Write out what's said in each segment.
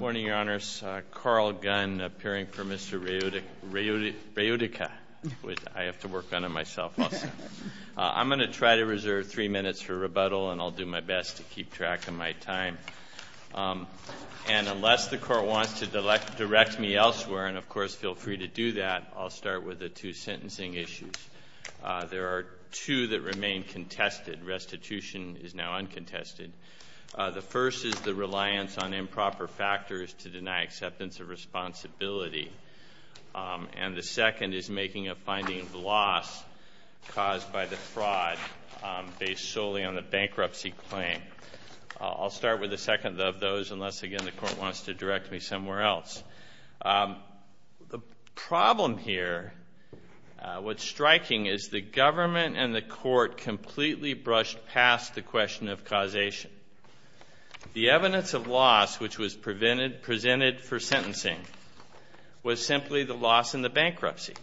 Morning, Your Honors. Carl Gunn, appearing for Mr. Reodica. I have to work on it myself also. I'm going to try to reserve three minutes for rebuttal, and I'll do my best to keep track of my time. And unless the Court wants to direct me elsewhere, and of course feel free to do that, I'll start with the two sentencing issues. There are two that remain contested. Restitution is now uncontested. The first is the reliance on improper factors to deny acceptance of responsibility. And the second is making a finding of loss caused by the fraud based solely on the bankruptcy claim. I'll start with the second of those, unless again the Court wants to direct me somewhere else. The problem here, what's striking, is the government and the Court completely brushed past the question of causation. The evidence of loss which was presented for sentencing was simply the loss in the bankruptcy.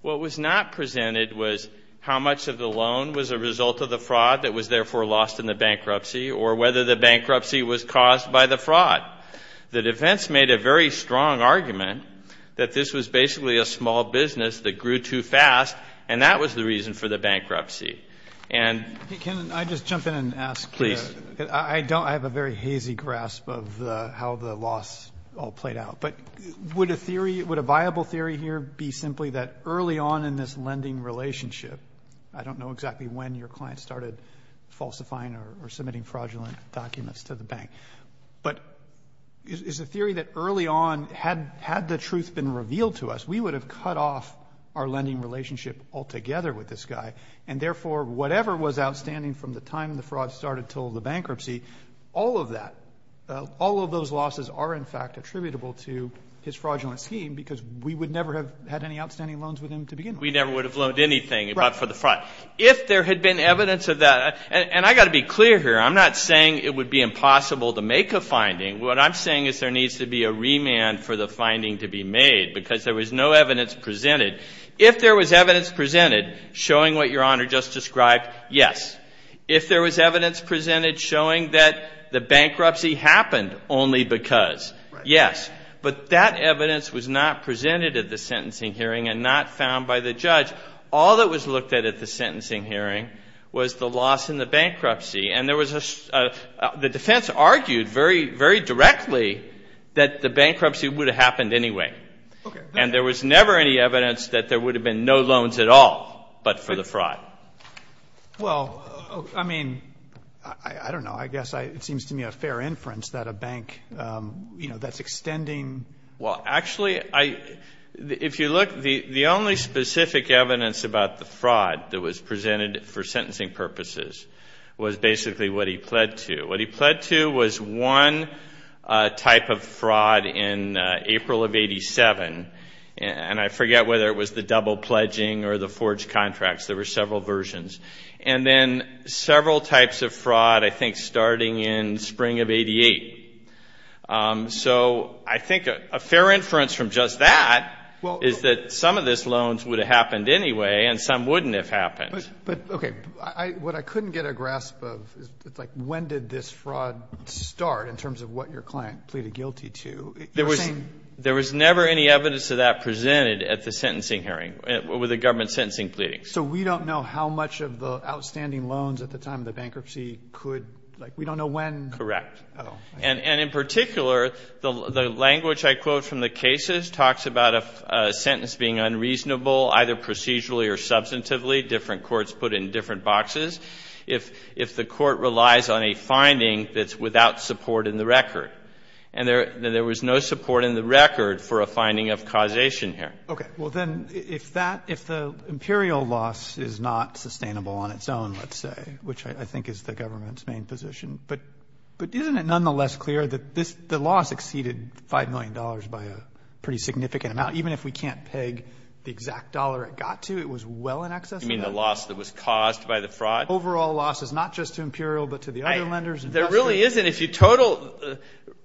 What was not presented was how much of the loan was a result of the fraud that was therefore lost in the bankruptcy, or whether the bankruptcy was caused by the fraud. The defense made a very strong argument that this was basically a small business that grew too fast, and that was the reason for the bankruptcy. Can I just jump in and ask? Please. I have a very hazy grasp of how the loss all played out. But would a viable theory here be simply that early on in this lending relationship, I don't know exactly when your client started falsifying or submitting fraudulent documents to the bank, but is a theory that early on had the truth been revealed to us, we would have cut off our lending relationship altogether with this guy, and therefore whatever was outstanding from the time the fraud started until the bankruptcy, all of that, all of those losses are in fact attributable to his fraudulent scheme because we would never have had any outstanding loans with him to begin with. We never would have loaned anything but for the fraud. If there had been evidence of that, and I've got to be clear here, I'm not saying it would be impossible to make a finding. What I'm saying is there needs to be a remand for the finding to be made because there was no evidence presented. If there was evidence presented showing what your Honor just described, yes. If there was evidence presented showing that the bankruptcy happened only because, yes. But that evidence was not presented at the sentencing hearing and not found by the judge. All that was looked at at the sentencing hearing was the loss in the bankruptcy, and the defense argued very directly that the bankruptcy would have happened anyway. And there was never any evidence that there would have been no loans at all but for the fraud. Well, I mean, I don't know. I guess it seems to me a fair inference that a bank, you know, that's extending. Well, actually, if you look, the only specific evidence about the fraud that was presented for sentencing purposes was basically what he pled to. What he pled to was one type of fraud in April of 87, and I forget whether it was the double pledging or the forged contracts. There were several versions. And then several types of fraud, I think, starting in spring of 88. So I think a fair inference from just that is that some of these loans would have happened anyway, and some wouldn't have happened. But, okay, what I couldn't get a grasp of is, like, when did this fraud start in terms of what your client pleaded guilty to? There was never any evidence of that presented at the sentencing hearing, with the government sentencing pleadings. So we don't know how much of the outstanding loans at the time of the bankruptcy could, like, we don't know when. Correct. And in particular, the language I quote from the cases talks about a sentence being unreasonable, either procedurally or substantively, different courts put in different boxes, if the court relies on a finding that's without support in the record. And there was no support in the record for a finding of causation here. Okay. Well, then, if that, if the imperial loss is not sustainable on its own, let's say, which I think is the government's main position, but isn't it nonetheless clear that the loss exceeded $5 million by a pretty significant amount? Even if we can't peg the exact dollar it got to, it was well in excess of that. You mean the loss that was caused by the fraud? Overall loss is not just to imperial, but to the other lenders. There really isn't. If you total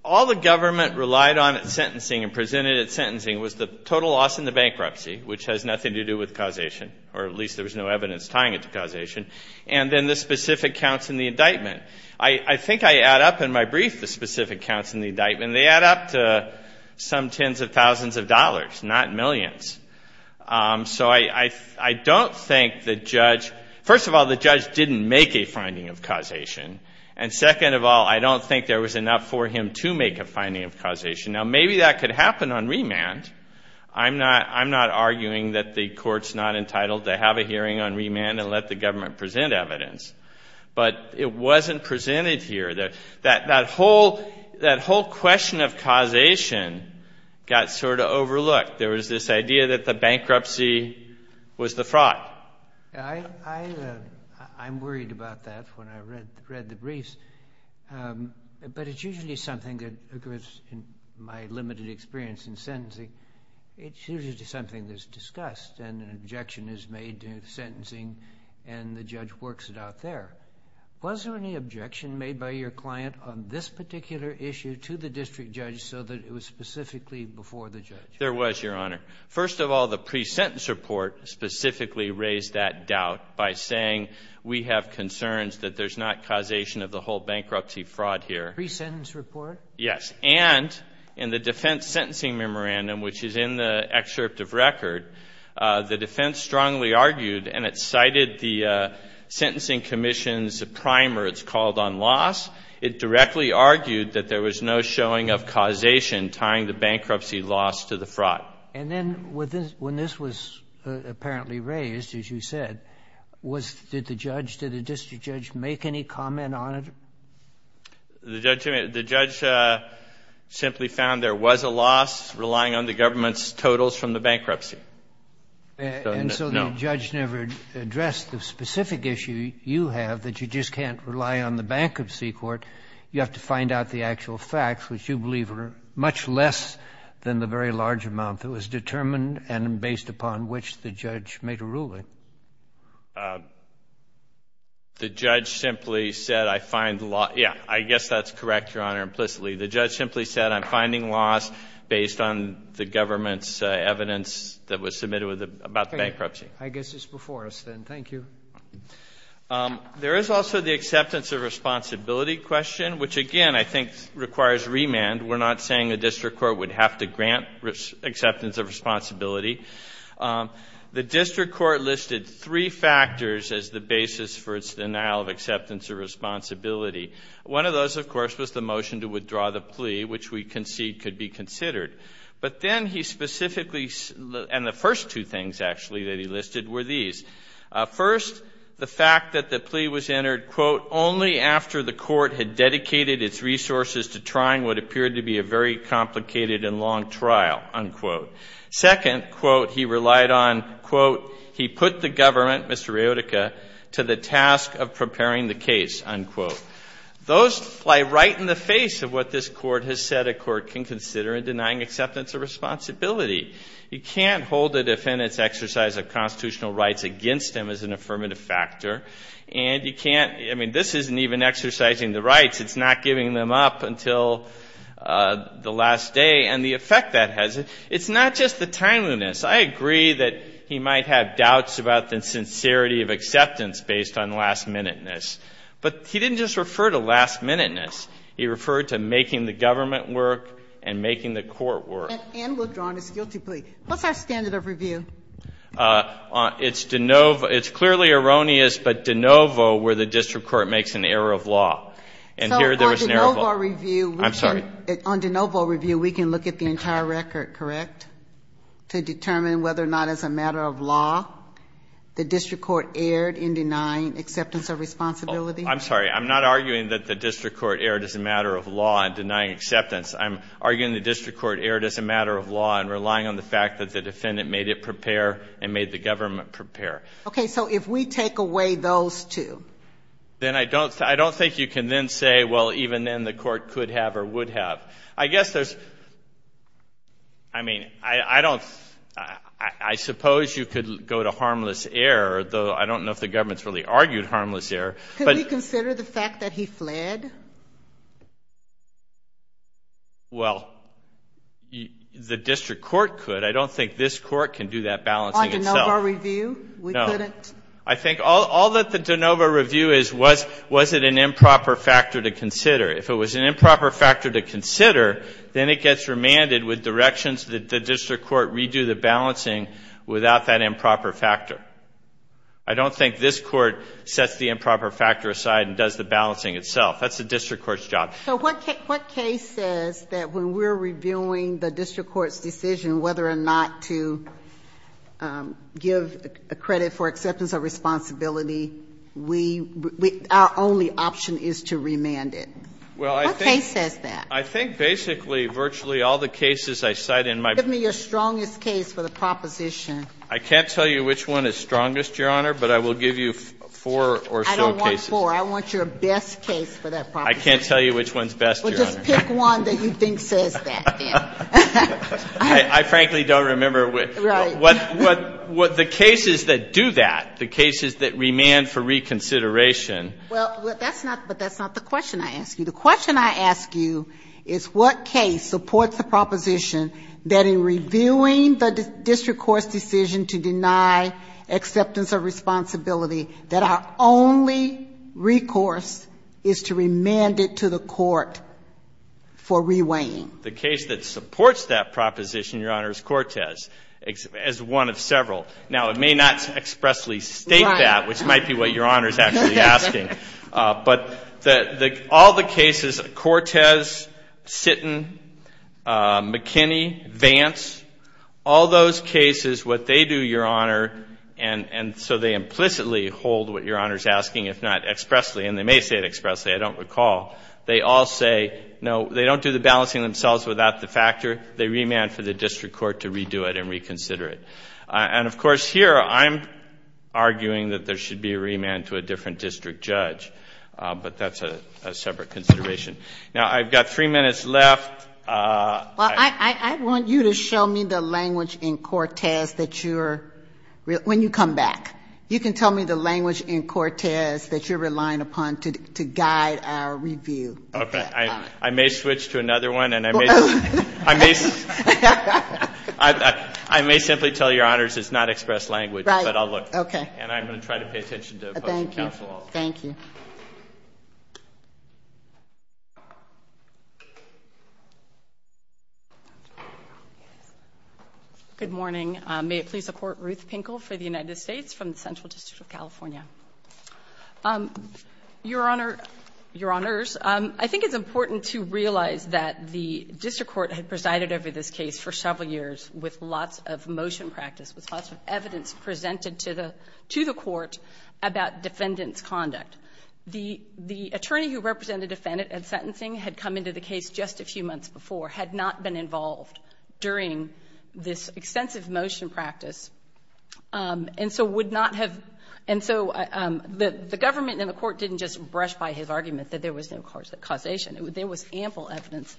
all the government relied on at sentencing and presented at sentencing was the total loss in the bankruptcy, which has nothing to do with causation, or at least there was no evidence tying it to causation, and then the specific counts in the indictment. I think I add up in my brief the specific counts in the indictment. They add up to some tens of thousands of dollars, not millions. So I don't think the judge, first of all, the judge didn't make a finding of causation, and second of all, I don't think there was enough for him to make a finding of causation. Now, maybe that could happen on remand. I'm not arguing that the court's not entitled to have a hearing on remand and let the government present evidence, but it wasn't presented here. That whole question of causation got sort of overlooked. There was this idea that the bankruptcy was the fraud. I'm worried about that when I read the briefs, but it's usually something that occurs in my limited experience in sentencing. It's usually something that's discussed and an objection is made to sentencing and the judge works it out there. Was there any objection made by your client on this particular issue to the district judge so that it was specifically before the judge? There was, Your Honor. First of all, the pre-sentence report specifically raised that doubt by saying we have concerns that there's not causation of the whole bankruptcy fraud here. Pre-sentence report? Yes. And in the defense sentencing memorandum, which is in the excerpt of record, the defense strongly argued, and it cited the sentencing commission's primer. It's called on loss. It directly argued that there was no showing of causation tying the bankruptcy loss to the fraud. And then when this was apparently raised, as you said, did the judge, did the district judge make any comment on it? The judge simply found there was a loss relying on the government's totals from the bankruptcy. And so the judge never addressed the specific issue you have, that you just can't rely on the bankruptcy court. You have to find out the actual facts, which you believe are much less than the very large amount that was determined and based upon which the judge made a ruling. The judge simply said, I find loss. Yeah, I guess that's correct, Your Honor, implicitly. The judge simply said, I'm finding loss based on the government's evidence that was submitted about the bankruptcy. I guess it's before us then. Thank you. There is also the acceptance of responsibility question, which, again, I think requires remand. We're not saying the district court would have to grant acceptance of responsibility. The district court listed three factors as the basis for its denial of acceptance of responsibility. One of those, of course, was the motion to withdraw the plea, which we concede could be considered. But then he specifically, and the first two things, actually, that he listed were these. First, the fact that the plea was entered, quote, only after the court had dedicated its resources to trying what appeared to be a very complicated and long trial, unquote. Second, quote, he relied on, quote, he put the government, Mr. Iotica, to the task of preparing the case, unquote. Those lie right in the face of what this court has said a court can consider in denying acceptance of responsibility. You can't hold a defendant's exercise of constitutional rights against him as an affirmative factor. And you can't — I mean, this isn't even exercising the rights. It's not giving them up until the last day. And the effect that has, it's not just the timeliness. I agree that he might have doubts about the sincerity of acceptance based on last-minuteness. But he didn't just refer to last-minuteness. He referred to making the government work and making the court work. And we'll draw on his guilty plea. What's our standard of review? It's de novo. It's clearly erroneous, but de novo where the district court makes an error of law. And here there was an error of law. I'm sorry. On de novo review, we can look at the entire record, correct, to determine whether or not as a matter of law, the district court erred in denying acceptance of responsibility? I'm sorry. I'm not arguing that the district court erred as a matter of law in denying acceptance. I'm arguing the district court erred as a matter of law and relying on the fact that the defendant made it prepare and made the government prepare. Okay. So if we take away those two. Then I don't think you can then say, well, even then the court could have or would have. I guess there's, I mean, I don't, I suppose you could go to harmless error, though I don't know if the government's really argued harmless error. Can we consider the fact that he fled? Well, the district court could. I don't think this court can do that balancing itself. On de novo review, we couldn't? No. I think all that the de novo review is, was it an improper factor to consider? If it was an improper factor to consider, then it gets remanded with directions that the district court redo the balancing without that improper factor. I don't think this court sets the improper factor aside and does the balancing itself. That's the district court's job. So what case says that when we're reviewing the district court's decision whether or not to give credit for acceptance of responsibility, we, our only option is to remand it? Well, I think. What case says that? I think basically virtually all the cases I cite in my. Give me your strongest case for the proposition. I can't tell you which one is strongest, Your Honor, but I will give you four or so cases. I don't want four. I want your best case for that proposition. I can't tell you which one's best, Your Honor. Well, just pick one that you think says that, then. I frankly don't remember which. Right. The cases that do that, the cases that remand for reconsideration. Well, that's not, but that's not the question I ask you. The question I ask you is what case supports the proposition that in reviewing the district court's decision to deny acceptance of responsibility, that our only recourse is to remand it to the court for reweighing? The case that supports that proposition, Your Honor, is Cortez as one of several. Now, it may not expressly state that, which might be what Your Honor is actually asking. But all the cases, Cortez, Sitton, McKinney, Vance, all those cases, what they do, Your Honor, and so they implicitly hold what Your Honor is asking, if not expressly, and they may say it expressly, I don't recall. They all say, no, they don't do the balancing themselves without the factor. They remand for the district court to redo it and reconsider it. And, of course, here I'm arguing that there should be a remand to a different district judge. But that's a separate consideration. Now, I've got three minutes left. Well, I want you to show me the language in Cortez that you're, when you come back, you can tell me the language in Cortez that you're relying upon to guide our review. Okay. I may switch to another one. I may simply tell Your Honors it's not expressed language, but I'll look. Right. Okay. And I'm going to try to pay attention to the Postal Council also. Thank you. Thank you. Good morning. May it please the Court, Ruth Pinkel for the United States from the Central District of California. Your Honor, Your Honors, I think it's important to realize that the district court had presided over this case for several years with lots of motion practice, with lots of evidence presented to the court about defendant's conduct. The attorney who represented the defendant in sentencing had come into the case just a few months before, had not been involved during this extensive motion practice, and so would not have, and so the government and the court didn't just brush by his argument that there was no causation. There was ample evidence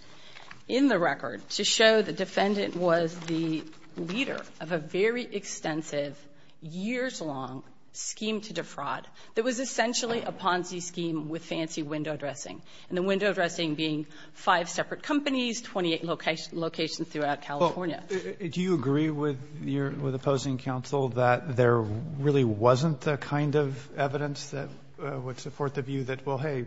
in the record to show the defendant was the leader of a very extensive, years-long scheme to defraud that was essentially a Ponzi scheme with fancy window dressing, and the window dressing being five separate companies, 28 locations throughout California. Do you agree with opposing counsel that there really wasn't the kind of evidence that would support the view that, well, hey,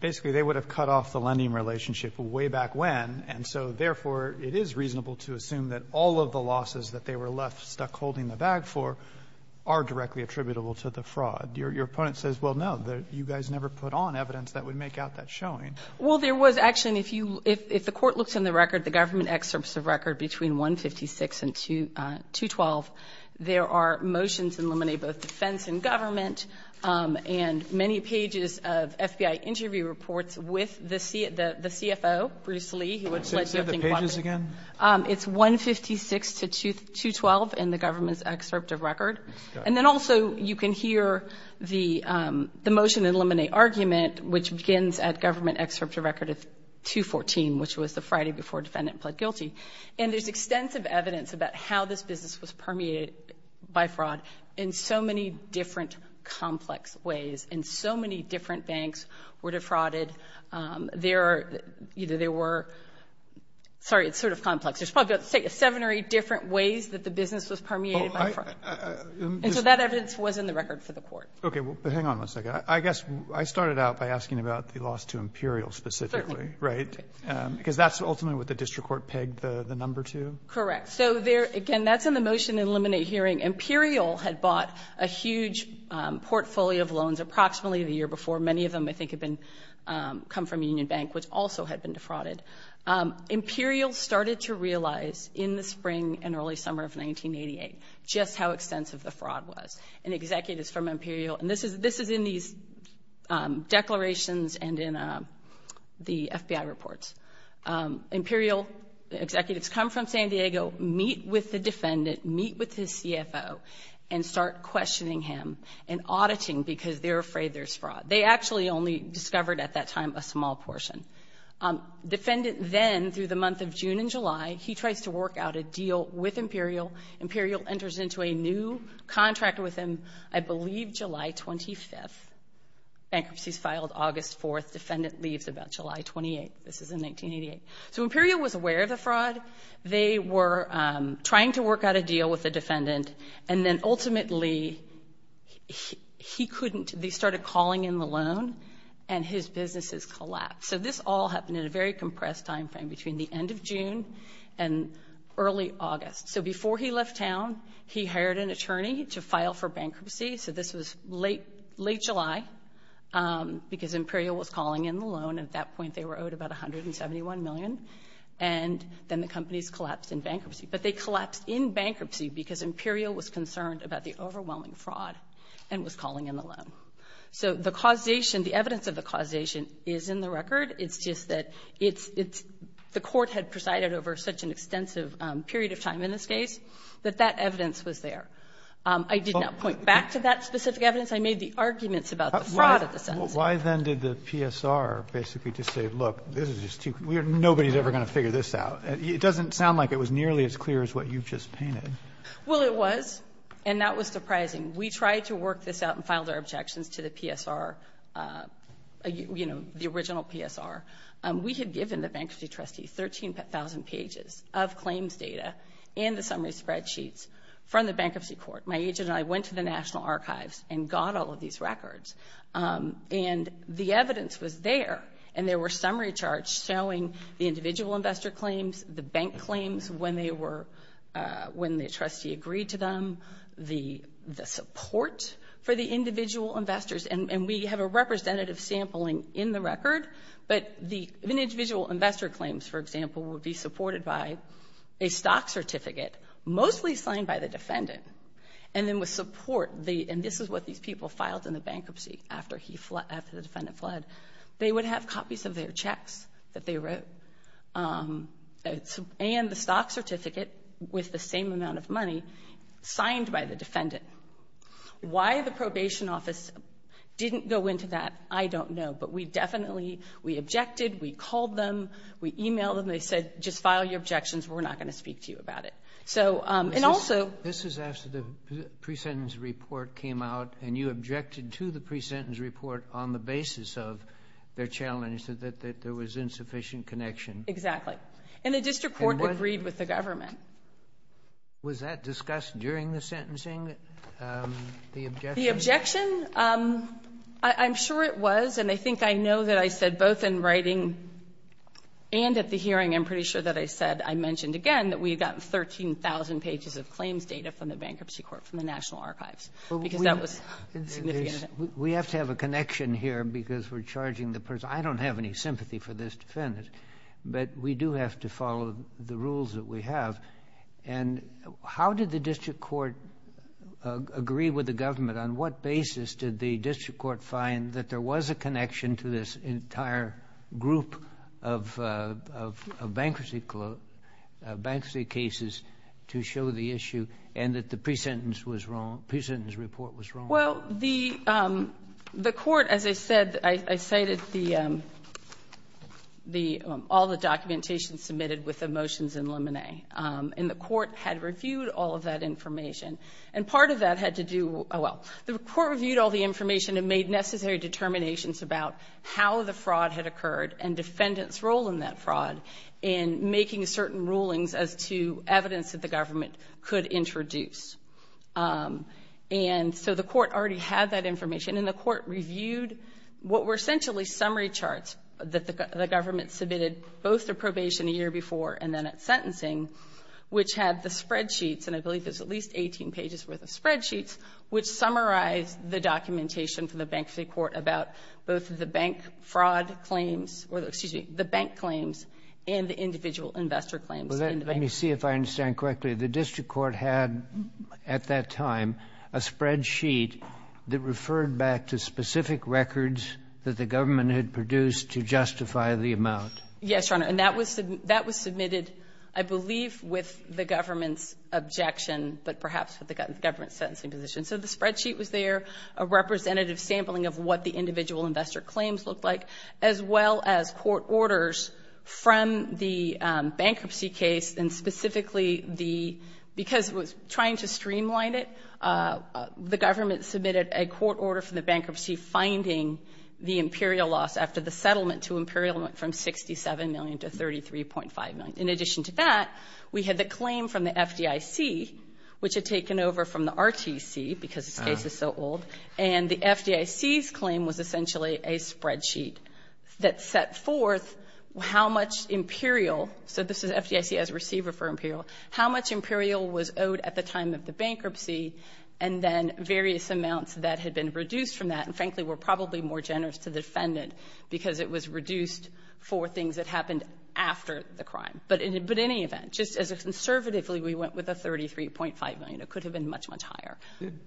basically, they would have cut off the lending relationship way back when, and so therefore it is reasonable to assume that all of the losses that they were left stuck holding the bag for are directly attributable to the fraud. Your opponent says, well, no, you guys never put on evidence that would make out that showing. Well, there was actually, and if the court looks in the record, the government excerpts of record between 156 and 212, there are motions in lemonade, both defense and government, and many pages of FBI interview reports with the CFO, Bruce Lee, who would let you think about it. Say the pages again. It's 156 to 212 in the government's excerpt of record, and then also you can hear the motion in lemonade argument, which begins at government excerpts of record of 214, which was the Friday before defendant pled guilty, and there's extensive evidence about how this business was permeated by fraud in so many different complex ways, and so many different banks were defrauded. There, either there were, sorry, it's sort of complex. There's probably seven or eight different ways that the business was permeated by fraud, and so that evidence was in the record for the court. Okay. Well, hang on one second. I guess I started out by asking about the loss to Imperial specifically, right? Certainly. Because that's ultimately what the district court pegged the number to? Correct. So, again, that's in the motion in lemonade hearing. Imperial had bought a huge portfolio of loans approximately the year before. Many of them, I think, had come from Union Bank, which also had been defrauded. Imperial started to realize in the spring and early summer of 1988 just how extensive the fraud was. And executives from Imperial, and this is in these declarations and in the FBI reports, Imperial executives come from San Diego, meet with the defendant, meet with his CFO, and start questioning him and auditing because they're afraid there's fraud. They actually only discovered at that time a small portion. Defendant then, through the month of June and July, he tries to work out a deal with Imperial. Imperial enters into a new contract with him, I believe July 25th. Bankruptcies filed August 4th. Defendant leaves about July 28th. This is in 1988. So Imperial was aware of the fraud. They were trying to work out a deal with the defendant. And then, ultimately, he couldn't. They started calling in the loan, and his businesses collapsed. So this all happened in a very compressed time frame between the end of June and early August. So before he left town, he hired an attorney to file for bankruptcy. So this was late July because Imperial was calling in the loan. At that point, they were owed about $171 million. And then the companies collapsed in bankruptcy. But they collapsed in bankruptcy because Imperial was concerned about the overwhelming fraud and was calling in the loan. So the causation, the evidence of the causation, is in the record. It's just that it's the court had presided over such an extensive period of time in this case that that evidence was there. I did not point back to that specific evidence. I made the arguments about the fraud at the sentence. Roberts. Why then did the PSR basically just say, look, this is just too weird. Nobody is ever going to figure this out. It doesn't sound like it was nearly as clear as what you just painted. Well, it was. And that was surprising. We tried to work this out and filed our objections to the PSR, you know, the original PSR. We had given the bankruptcy trustee 13,000 pages of claims data and the summary spreadsheets from the bankruptcy court. My agent and I went to the National Archives and got all of these records. And the evidence was there. And there were summary charts showing the individual investor claims, the bank claims when the trustee agreed to them, the support for the individual investors. And we have a representative sampling in the record. But the individual investor claims, for example, would be supported by a stock certificate mostly signed by the defendant. And then with support, and this is what these people filed in the bankruptcy after the defendant fled, they would have copies of their checks that they wrote and the stock certificate with the same amount of money signed by the defendant. Why the probation office didn't go into that, I don't know. But we definitely, we objected. We called them. We emailed them. They said, just file your objections. We're not going to speak to you about it. This is after the pre-sentence report came out, and you objected to the pre-sentence report on the basis of their challenge that there was insufficient connection. Exactly. And the district court agreed with the government. Was that discussed during the sentencing, the objection? The objection? I'm sure it was, and I think I know that I said both in writing and at the hearing, I'm pretty sure that I said, I mentioned again, that we had gotten 13,000 pages of claims data from the bankruptcy court from the National Archives because that was significant. We have to have a connection here because we're charging the person. I don't have any sympathy for this defendant, but we do have to follow the rules that we have. And how did the district court agree with the government? On what basis did the district court find that there was a connection to this entire group of bankruptcy cases to show the issue and that the pre-sentence report was wrong? Well, the court, as I said, I cited all the documentation submitted with the motions in Lemonet, and the court had reviewed all of that information. And part of that had to do with, well, the court reviewed all the information and made necessary determinations about how the fraud had occurred and defendants' role in that fraud in making certain rulings as to evidence that the government could introduce. And so the court already had that information, and the court reviewed what were essentially summary charts that the government submitted, both the probation a year before and then at sentencing, which had the spreadsheets, and I believe there's at least 18 pages worth of spreadsheets, which summarized the documentation from the bankruptcy court about both the bank fraud claims, or excuse me, the bank claims and the individual investor claims. Let me see if I understand correctly. The district court had at that time a spreadsheet that referred back to specific records that the government had produced to justify the amount. Yes, Your Honor. And that was submitted, I believe, with the government's objection, but perhaps with the government's sentencing position. So the spreadsheet was there, a representative sampling of what the individual investor claims looked like, as well as court orders from the bankruptcy case, and specifically because it was trying to streamline it, the government submitted a court order for the bankruptcy finding the imperial loss after the settlement to imperial from $67 million to $33.5 million. In addition to that, we had the claim from the FDIC, which had taken over from the RTC because this case is so old, and the FDIC's claim was essentially a spreadsheet that set forth how much imperial, so this is FDIC as a receiver for imperial, how much imperial was owed at the time of the bankruptcy, and then various amounts that had been reduced from that, and frankly were probably more generous to the defendant because it was reduced for things that happened after the crime. But in any event, just as a conservatively, we went with a $33.5 million. It could have been much, much higher.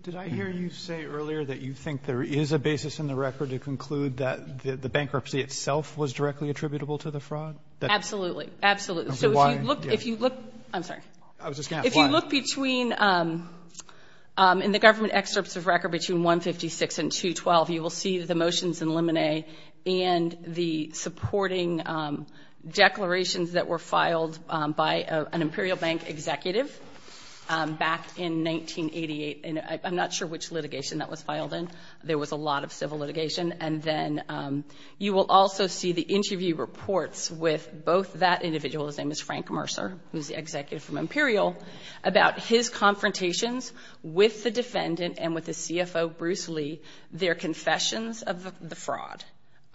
Did I hear you say earlier that you think there is a basis in the record to conclude that the bankruptcy itself was directly attributable to the fraud? Absolutely, absolutely. Okay, why? I'm sorry. I was just going to ask why. If you look between, in the government excerpts of record between 156 and 212, you will see the motions in limine and the supporting declarations that were filed by an imperial bank executive back in 1988, and I'm not sure which litigation that was filed in. There was a lot of civil litigation. And then you will also see the interview reports with both that individual, his name is Frank Mercer, who is the executive from Imperial, about his confrontations with the defendant and with the CFO, Bruce Lee, their confessions of the fraud.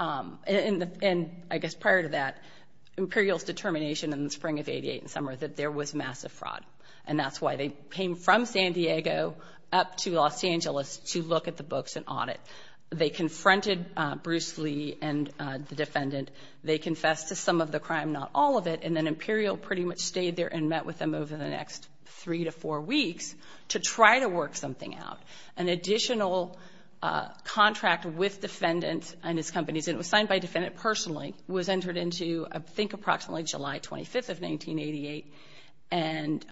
And I guess prior to that, Imperial's determination in the spring of 1988 and summer that there was massive fraud, and that's why they came from San Diego up to Los Angeles to look at the books and audit. They confronted Bruce Lee and the defendant. They confessed to some of the crime, not all of it, and then Imperial pretty much stayed there and met with them over the next three to four weeks to try to work something out. An additional contract with defendants and his companies, and it was signed by a defendant personally, was entered into I think approximately July 25th of 1988, and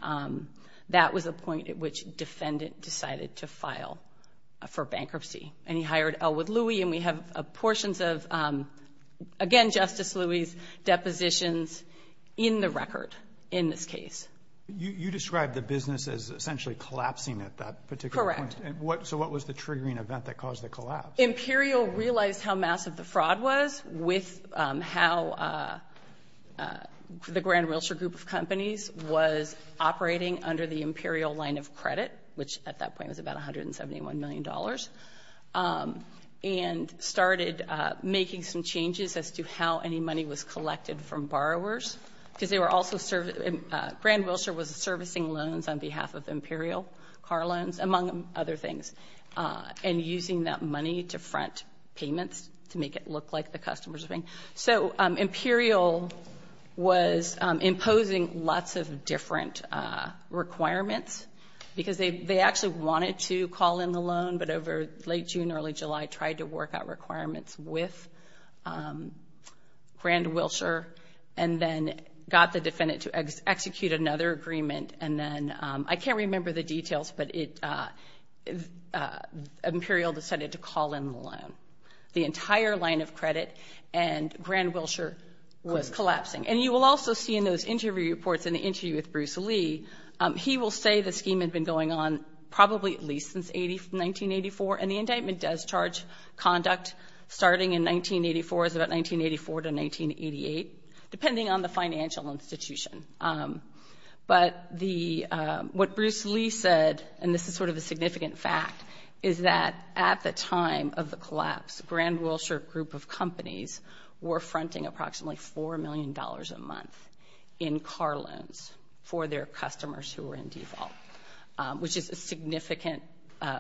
that was the point at which the defendant decided to file for bankruptcy. And he hired Elwood Louie, and we have portions of, again, Justice Louie's depositions in the record in this case. You described the business as essentially collapsing at that particular point. Correct. So what was the triggering event that caused the collapse? Imperial realized how massive the fraud was with how the Grand Realtor group of companies was operating under the Imperial line of credit, which at that point was about $171 million, and started making some changes as to how any money was collected from borrowers, because Grand Realtor was servicing loans on behalf of Imperial, car loans, among other things, and using that money to front payments to make it look like the customers were paying. So Imperial was imposing lots of different requirements because they actually wanted to call in the loan, but over late June, early July, tried to work out requirements with Grand Wilshire and then got the defendant to execute another agreement, and then I can't remember the details, but Imperial decided to call in the loan. The entire line of credit, and Grand Wilshire was collapsing. And you will also see in those interview reports, in the interview with Bruce Lee, he will say the scheme had been going on probably at least since 1984, and the indictment does charge conduct starting in 1984, so about 1984 to 1988, depending on the financial institution. But what Bruce Lee said, and this is sort of a significant fact, is that at the time of the collapse, Grand Wilshire Group of Companies were fronting approximately $4 million a month in car loans for their customers who were in default, which is a significant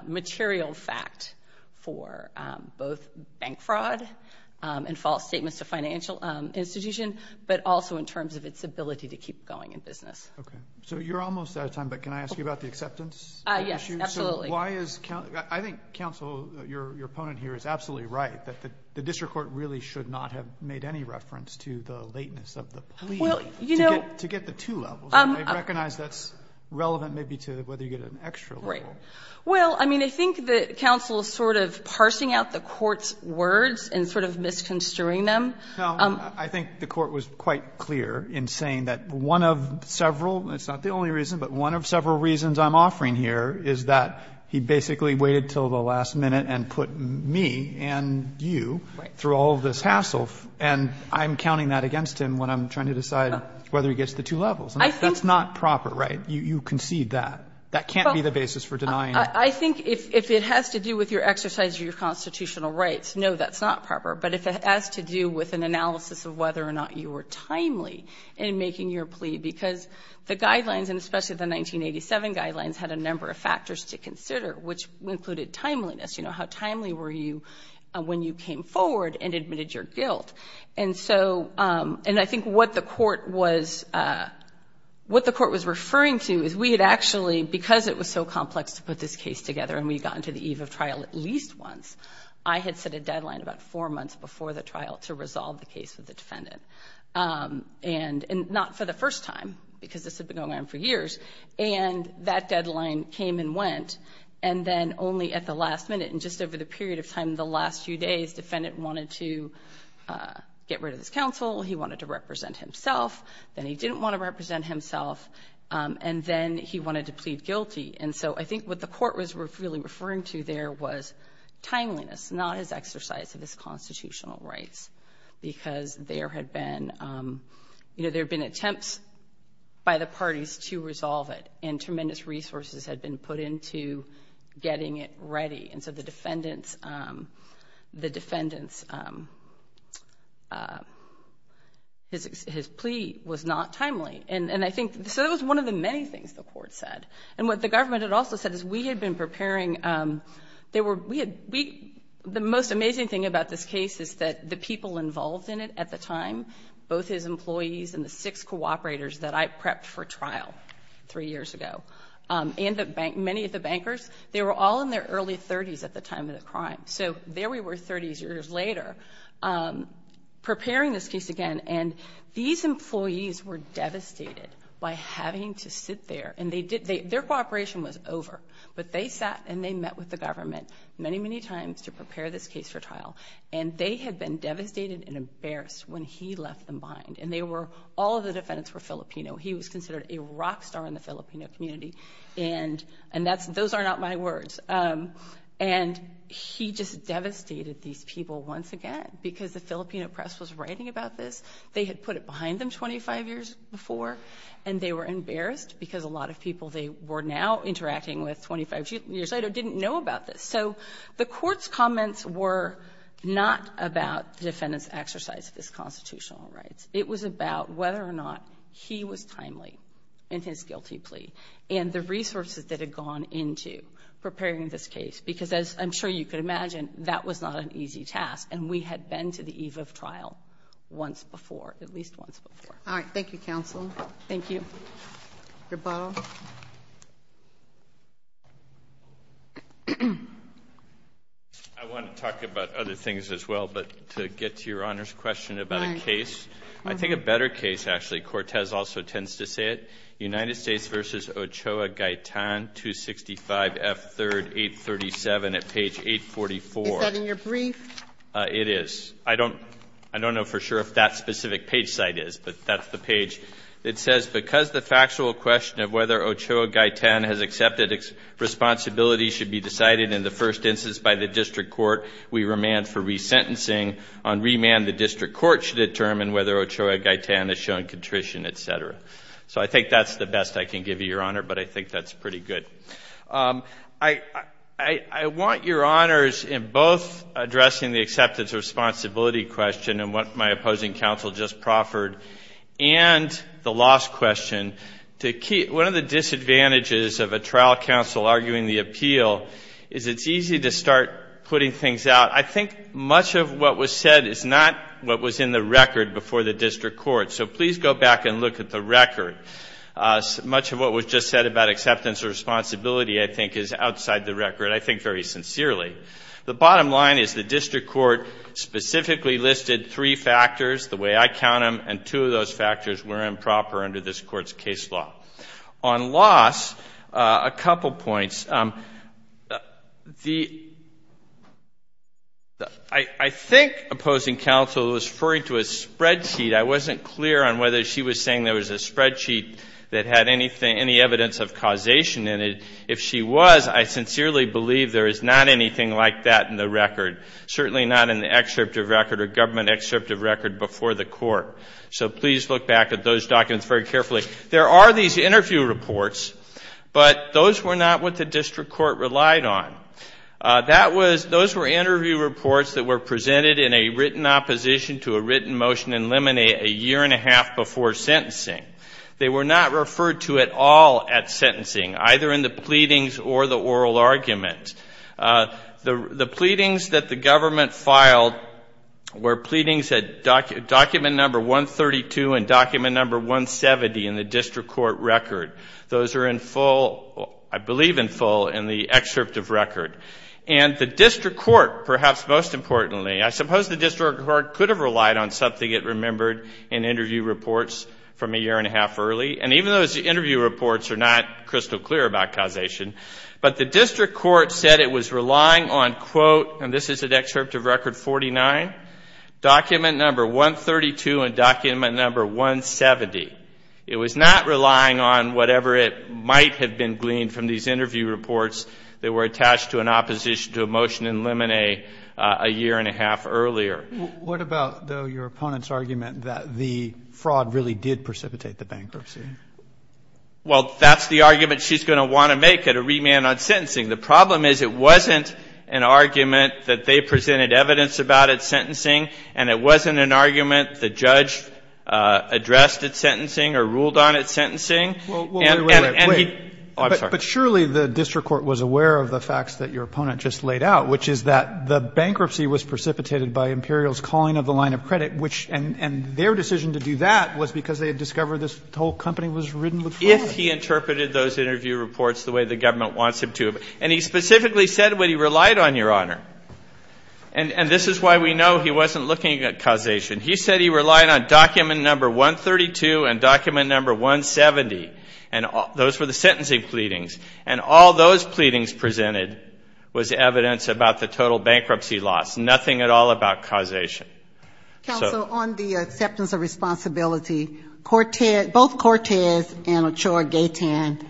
material fact for both bank fraud and false statements to financial institutions, but also in terms of its ability to keep going in business. Okay. So you're almost out of time, but can I ask you about the acceptance issue? Yes, absolutely. I think counsel, your opponent here, is absolutely right, that the district court really should not have made any reference to the lateness of the plea to get the two levels. I recognize that's relevant maybe to whether you get an extra level. Well, I mean, I think that counsel is sort of parsing out the court's words and sort of misconstruing them. No, I think the court was quite clear in saying that one of several, it's not the only reason, but one of several reasons I'm offering here is that he basically waited until the last minute and put me and you through all of this hassle, and I'm counting that against him when I'm trying to decide whether he gets the two levels. And that's not proper, right? You concede that. That can't be the basis for denying it. I think if it has to do with your exercise of your constitutional rights, no, that's not proper. But if it has to do with an analysis of whether or not you were timely in making your plea, because the guidelines, and especially the 1987 guidelines, had a number of factors to consider, which included timeliness. You know, how timely were you when you came forward and admitted your guilt? And so, and I think what the court was referring to is we had actually, because it was so complex to put this case together and we had gotten to the eve of trial at least once, I had set a deadline about four months before the trial to resolve the case with the defendant. And not for the first time, because this had been going on for years, and that deadline came and went, and then only at the last minute and just over the period of time in the last few days, the defendant wanted to get rid of his counsel, he wanted to represent himself, then he didn't want to represent himself, and then he wanted to plead guilty. And so I think what the court was really referring to there was timeliness, not his exercise of his constitutional rights. Because there had been, you know, there had been attempts by the parties to resolve it, and tremendous resources had been put into getting it ready. And so the defendant's plea was not timely. And I think, so that was one of the many things the court said. And what the government had also said is we had been preparing, the most amazing thing about this case is that the people involved in it at the time, both his employees and the six cooperators that I prepped for trial three years ago, and many of the bankers, they were all in their early 30s at the time of the crime. So there we were 30 years later, preparing this case again, and these employees were devastated by having to sit there. And their cooperation was over, but they sat and they met with the government many, many times to prepare this case for trial, and they had been devastated and embarrassed when he left them behind. And all of the defendants were Filipino. He was considered a rock star in the Filipino community, and those are not my words. And he just devastated these people once again, because the Filipino press was writing about this. They had put it behind them 25 years before, and they were embarrassed because a lot of people they were now interacting with 25 years later didn't know about this. So the court's comments were not about the defendant's exercise of his constitutional rights. It was about whether or not he was timely in his guilty plea and the resources that had gone into preparing this case, because as I'm sure you could imagine, that was not an easy task, and we had been to the eve of trial once before, at least once before. All right. Thank you, counsel. Thank you. Your bow. I want to talk about other things as well, but to get to Your Honor's question about a case, I think a better case, actually. Cortez also tends to say it. United States v. Ochoa Gaitan, 265 F. 3rd, 837 at page 844. Is that in your brief? It is. I don't know for sure if that specific page site is, but that's the page. It says, because the factual question of whether Ochoa Gaitan has accepted responsibility should be decided in the first instance by the district court, we remand for resentencing. On remand, the district court should determine whether Ochoa Gaitan has shown contrition, et cetera. So I think that's the best I can give you, Your Honor, but I think that's pretty good. I want Your Honors, in both addressing the acceptance of responsibility question and what my opposing counsel just proffered, and the loss question, to keep one of the disadvantages of a trial counsel arguing the appeal is it's easy to start putting things out. I think much of what was said is not what was in the record before the district court. So please go back and look at the record. Much of what was just said about acceptance of responsibility, I think, is outside the record. I think very sincerely. The bottom line is the district court specifically listed three factors the way I count them, and two of those factors were improper under this court's case law. On loss, a couple points. I think opposing counsel was referring to a spreadsheet. I wasn't clear on whether she was saying there was a spreadsheet that had any evidence of causation in it. If she was, I sincerely believe there is not anything like that in the record, certainly not in the excerpt of record or government excerpt of record before the court. So please look back at those documents very carefully. There are these interview reports, but those were not what the district court relied on. Those were interview reports that were presented in a written opposition to a written motion in limine a year and a half before sentencing. They were not referred to at all at sentencing, either in the pleadings or the oral argument. The pleadings that the government filed were pleadings at document number 132 and document number 170 in the district court record. Those are in full, I believe in full, in the excerpt of record. And the district court, perhaps most importantly, I suppose the district court could have relied on something it remembered in interview reports from a year and a half early, and even those interview reports are not crystal clear about causation, but the district court said it was relying on, quote, and this is an excerpt of record 49, document number 132 and document number 170. It was not relying on whatever it might have been gleaned from these interview reports that were attached to an opposition to a motion in limine a year and a half earlier. What about, though, your opponent's argument that the fraud really did precipitate the bankruptcy? Well, that's the argument she's going to want to make at a remand on sentencing. The problem is it wasn't an argument that they presented evidence about at sentencing and it wasn't an argument the judge addressed at sentencing or ruled on at sentencing. And he – But surely the district court was aware of the facts that your opponent just laid out, which is that the bankruptcy was precipitated by Imperial's calling of the line of credit, and their decision to do that was because they had discovered this whole company was riddled with fraud. If he interpreted those interview reports the way the government wants him to. And he specifically said what he relied on, Your Honor. And this is why we know he wasn't looking at causation. He said he relied on document number 132 and document number 170. And those were the sentencing pleadings. And all those pleadings presented was evidence about the total bankruptcy loss, nothing at all about causation. Counsel, on the acceptance of responsibility, both Cortez and Ochoa Gaytan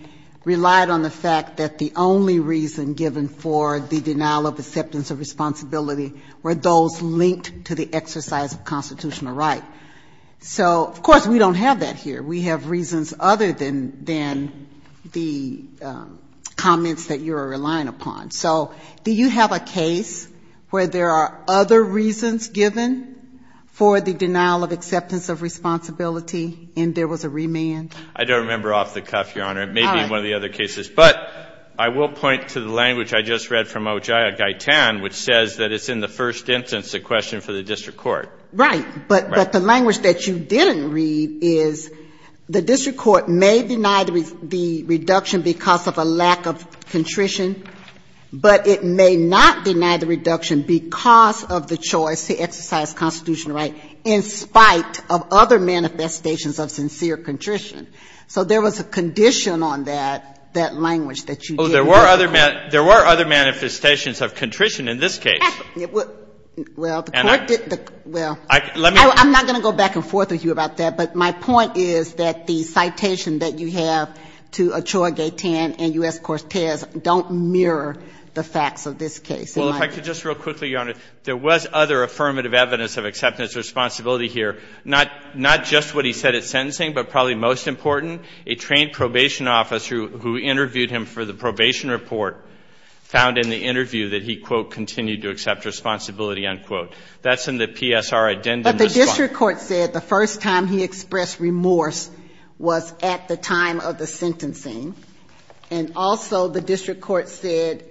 relied on the fact that the only reason given for the denial of acceptance of responsibility were those linked to the exercise of constitutional right. So, of course, we don't have that here. We have reasons other than the comments that you are relying upon. So do you have a case where there are other reasons given for the denial of acceptance of responsibility and there was a remand? I don't remember off the cuff, Your Honor. It may be one of the other cases. But I will point to the language I just read from Ochoa Gaytan, which says that it's in the first instance a question for the district court. Right. But the language that you didn't read is the district court may deny the reduction because of a lack of contrition. But it may not deny the reduction because of the choice to exercise constitutional right in spite of other manifestations of sincere contrition. So there was a condition on that, that language that you didn't read. Oh, there were other manifestations of contrition in this case. Well, the court did the – well, I'm not going to go back and forth with you about that. But my point is that the citation that you have to Ochoa Gaytan and U.S. Cortez don't mirror the facts of this case. Well, if I could just real quickly, Your Honor, there was other affirmative evidence of acceptance of responsibility here, not just what he said at sentencing, but probably most important, a trained probation officer who interviewed him for the probation report found in the interview that he, quote, continued to accept responsibility, unquote. That's in the PSR addendum. But the district court said the first time he expressed remorse was at the time of the sentencing. And also the district court said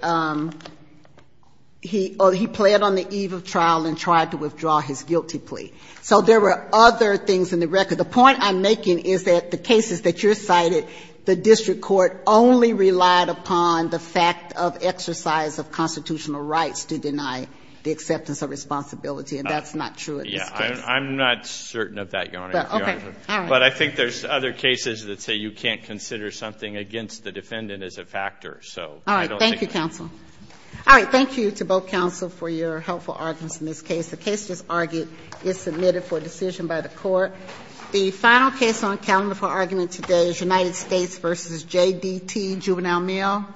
he pled on the eve of trial and tried to withdraw his guilty plea. So there were other things in the record. The point I'm making is that the cases that you cited, the district court only relied upon the fact of exercise of constitutional rights to deny the acceptance of responsibility, and that's not true in this case. I'm not certain of that, Your Honor. Okay. All right. But I think there's other cases that say you can't consider something against the defendant as a factor. So I don't think that's true. All right. Thank you, counsel. Thank you to both counsel for your helpful arguments in this case. The case just argued is submitted for decision by the court. The final case on calendar for argument today is United States v. J.D.T. Juvenile Mail.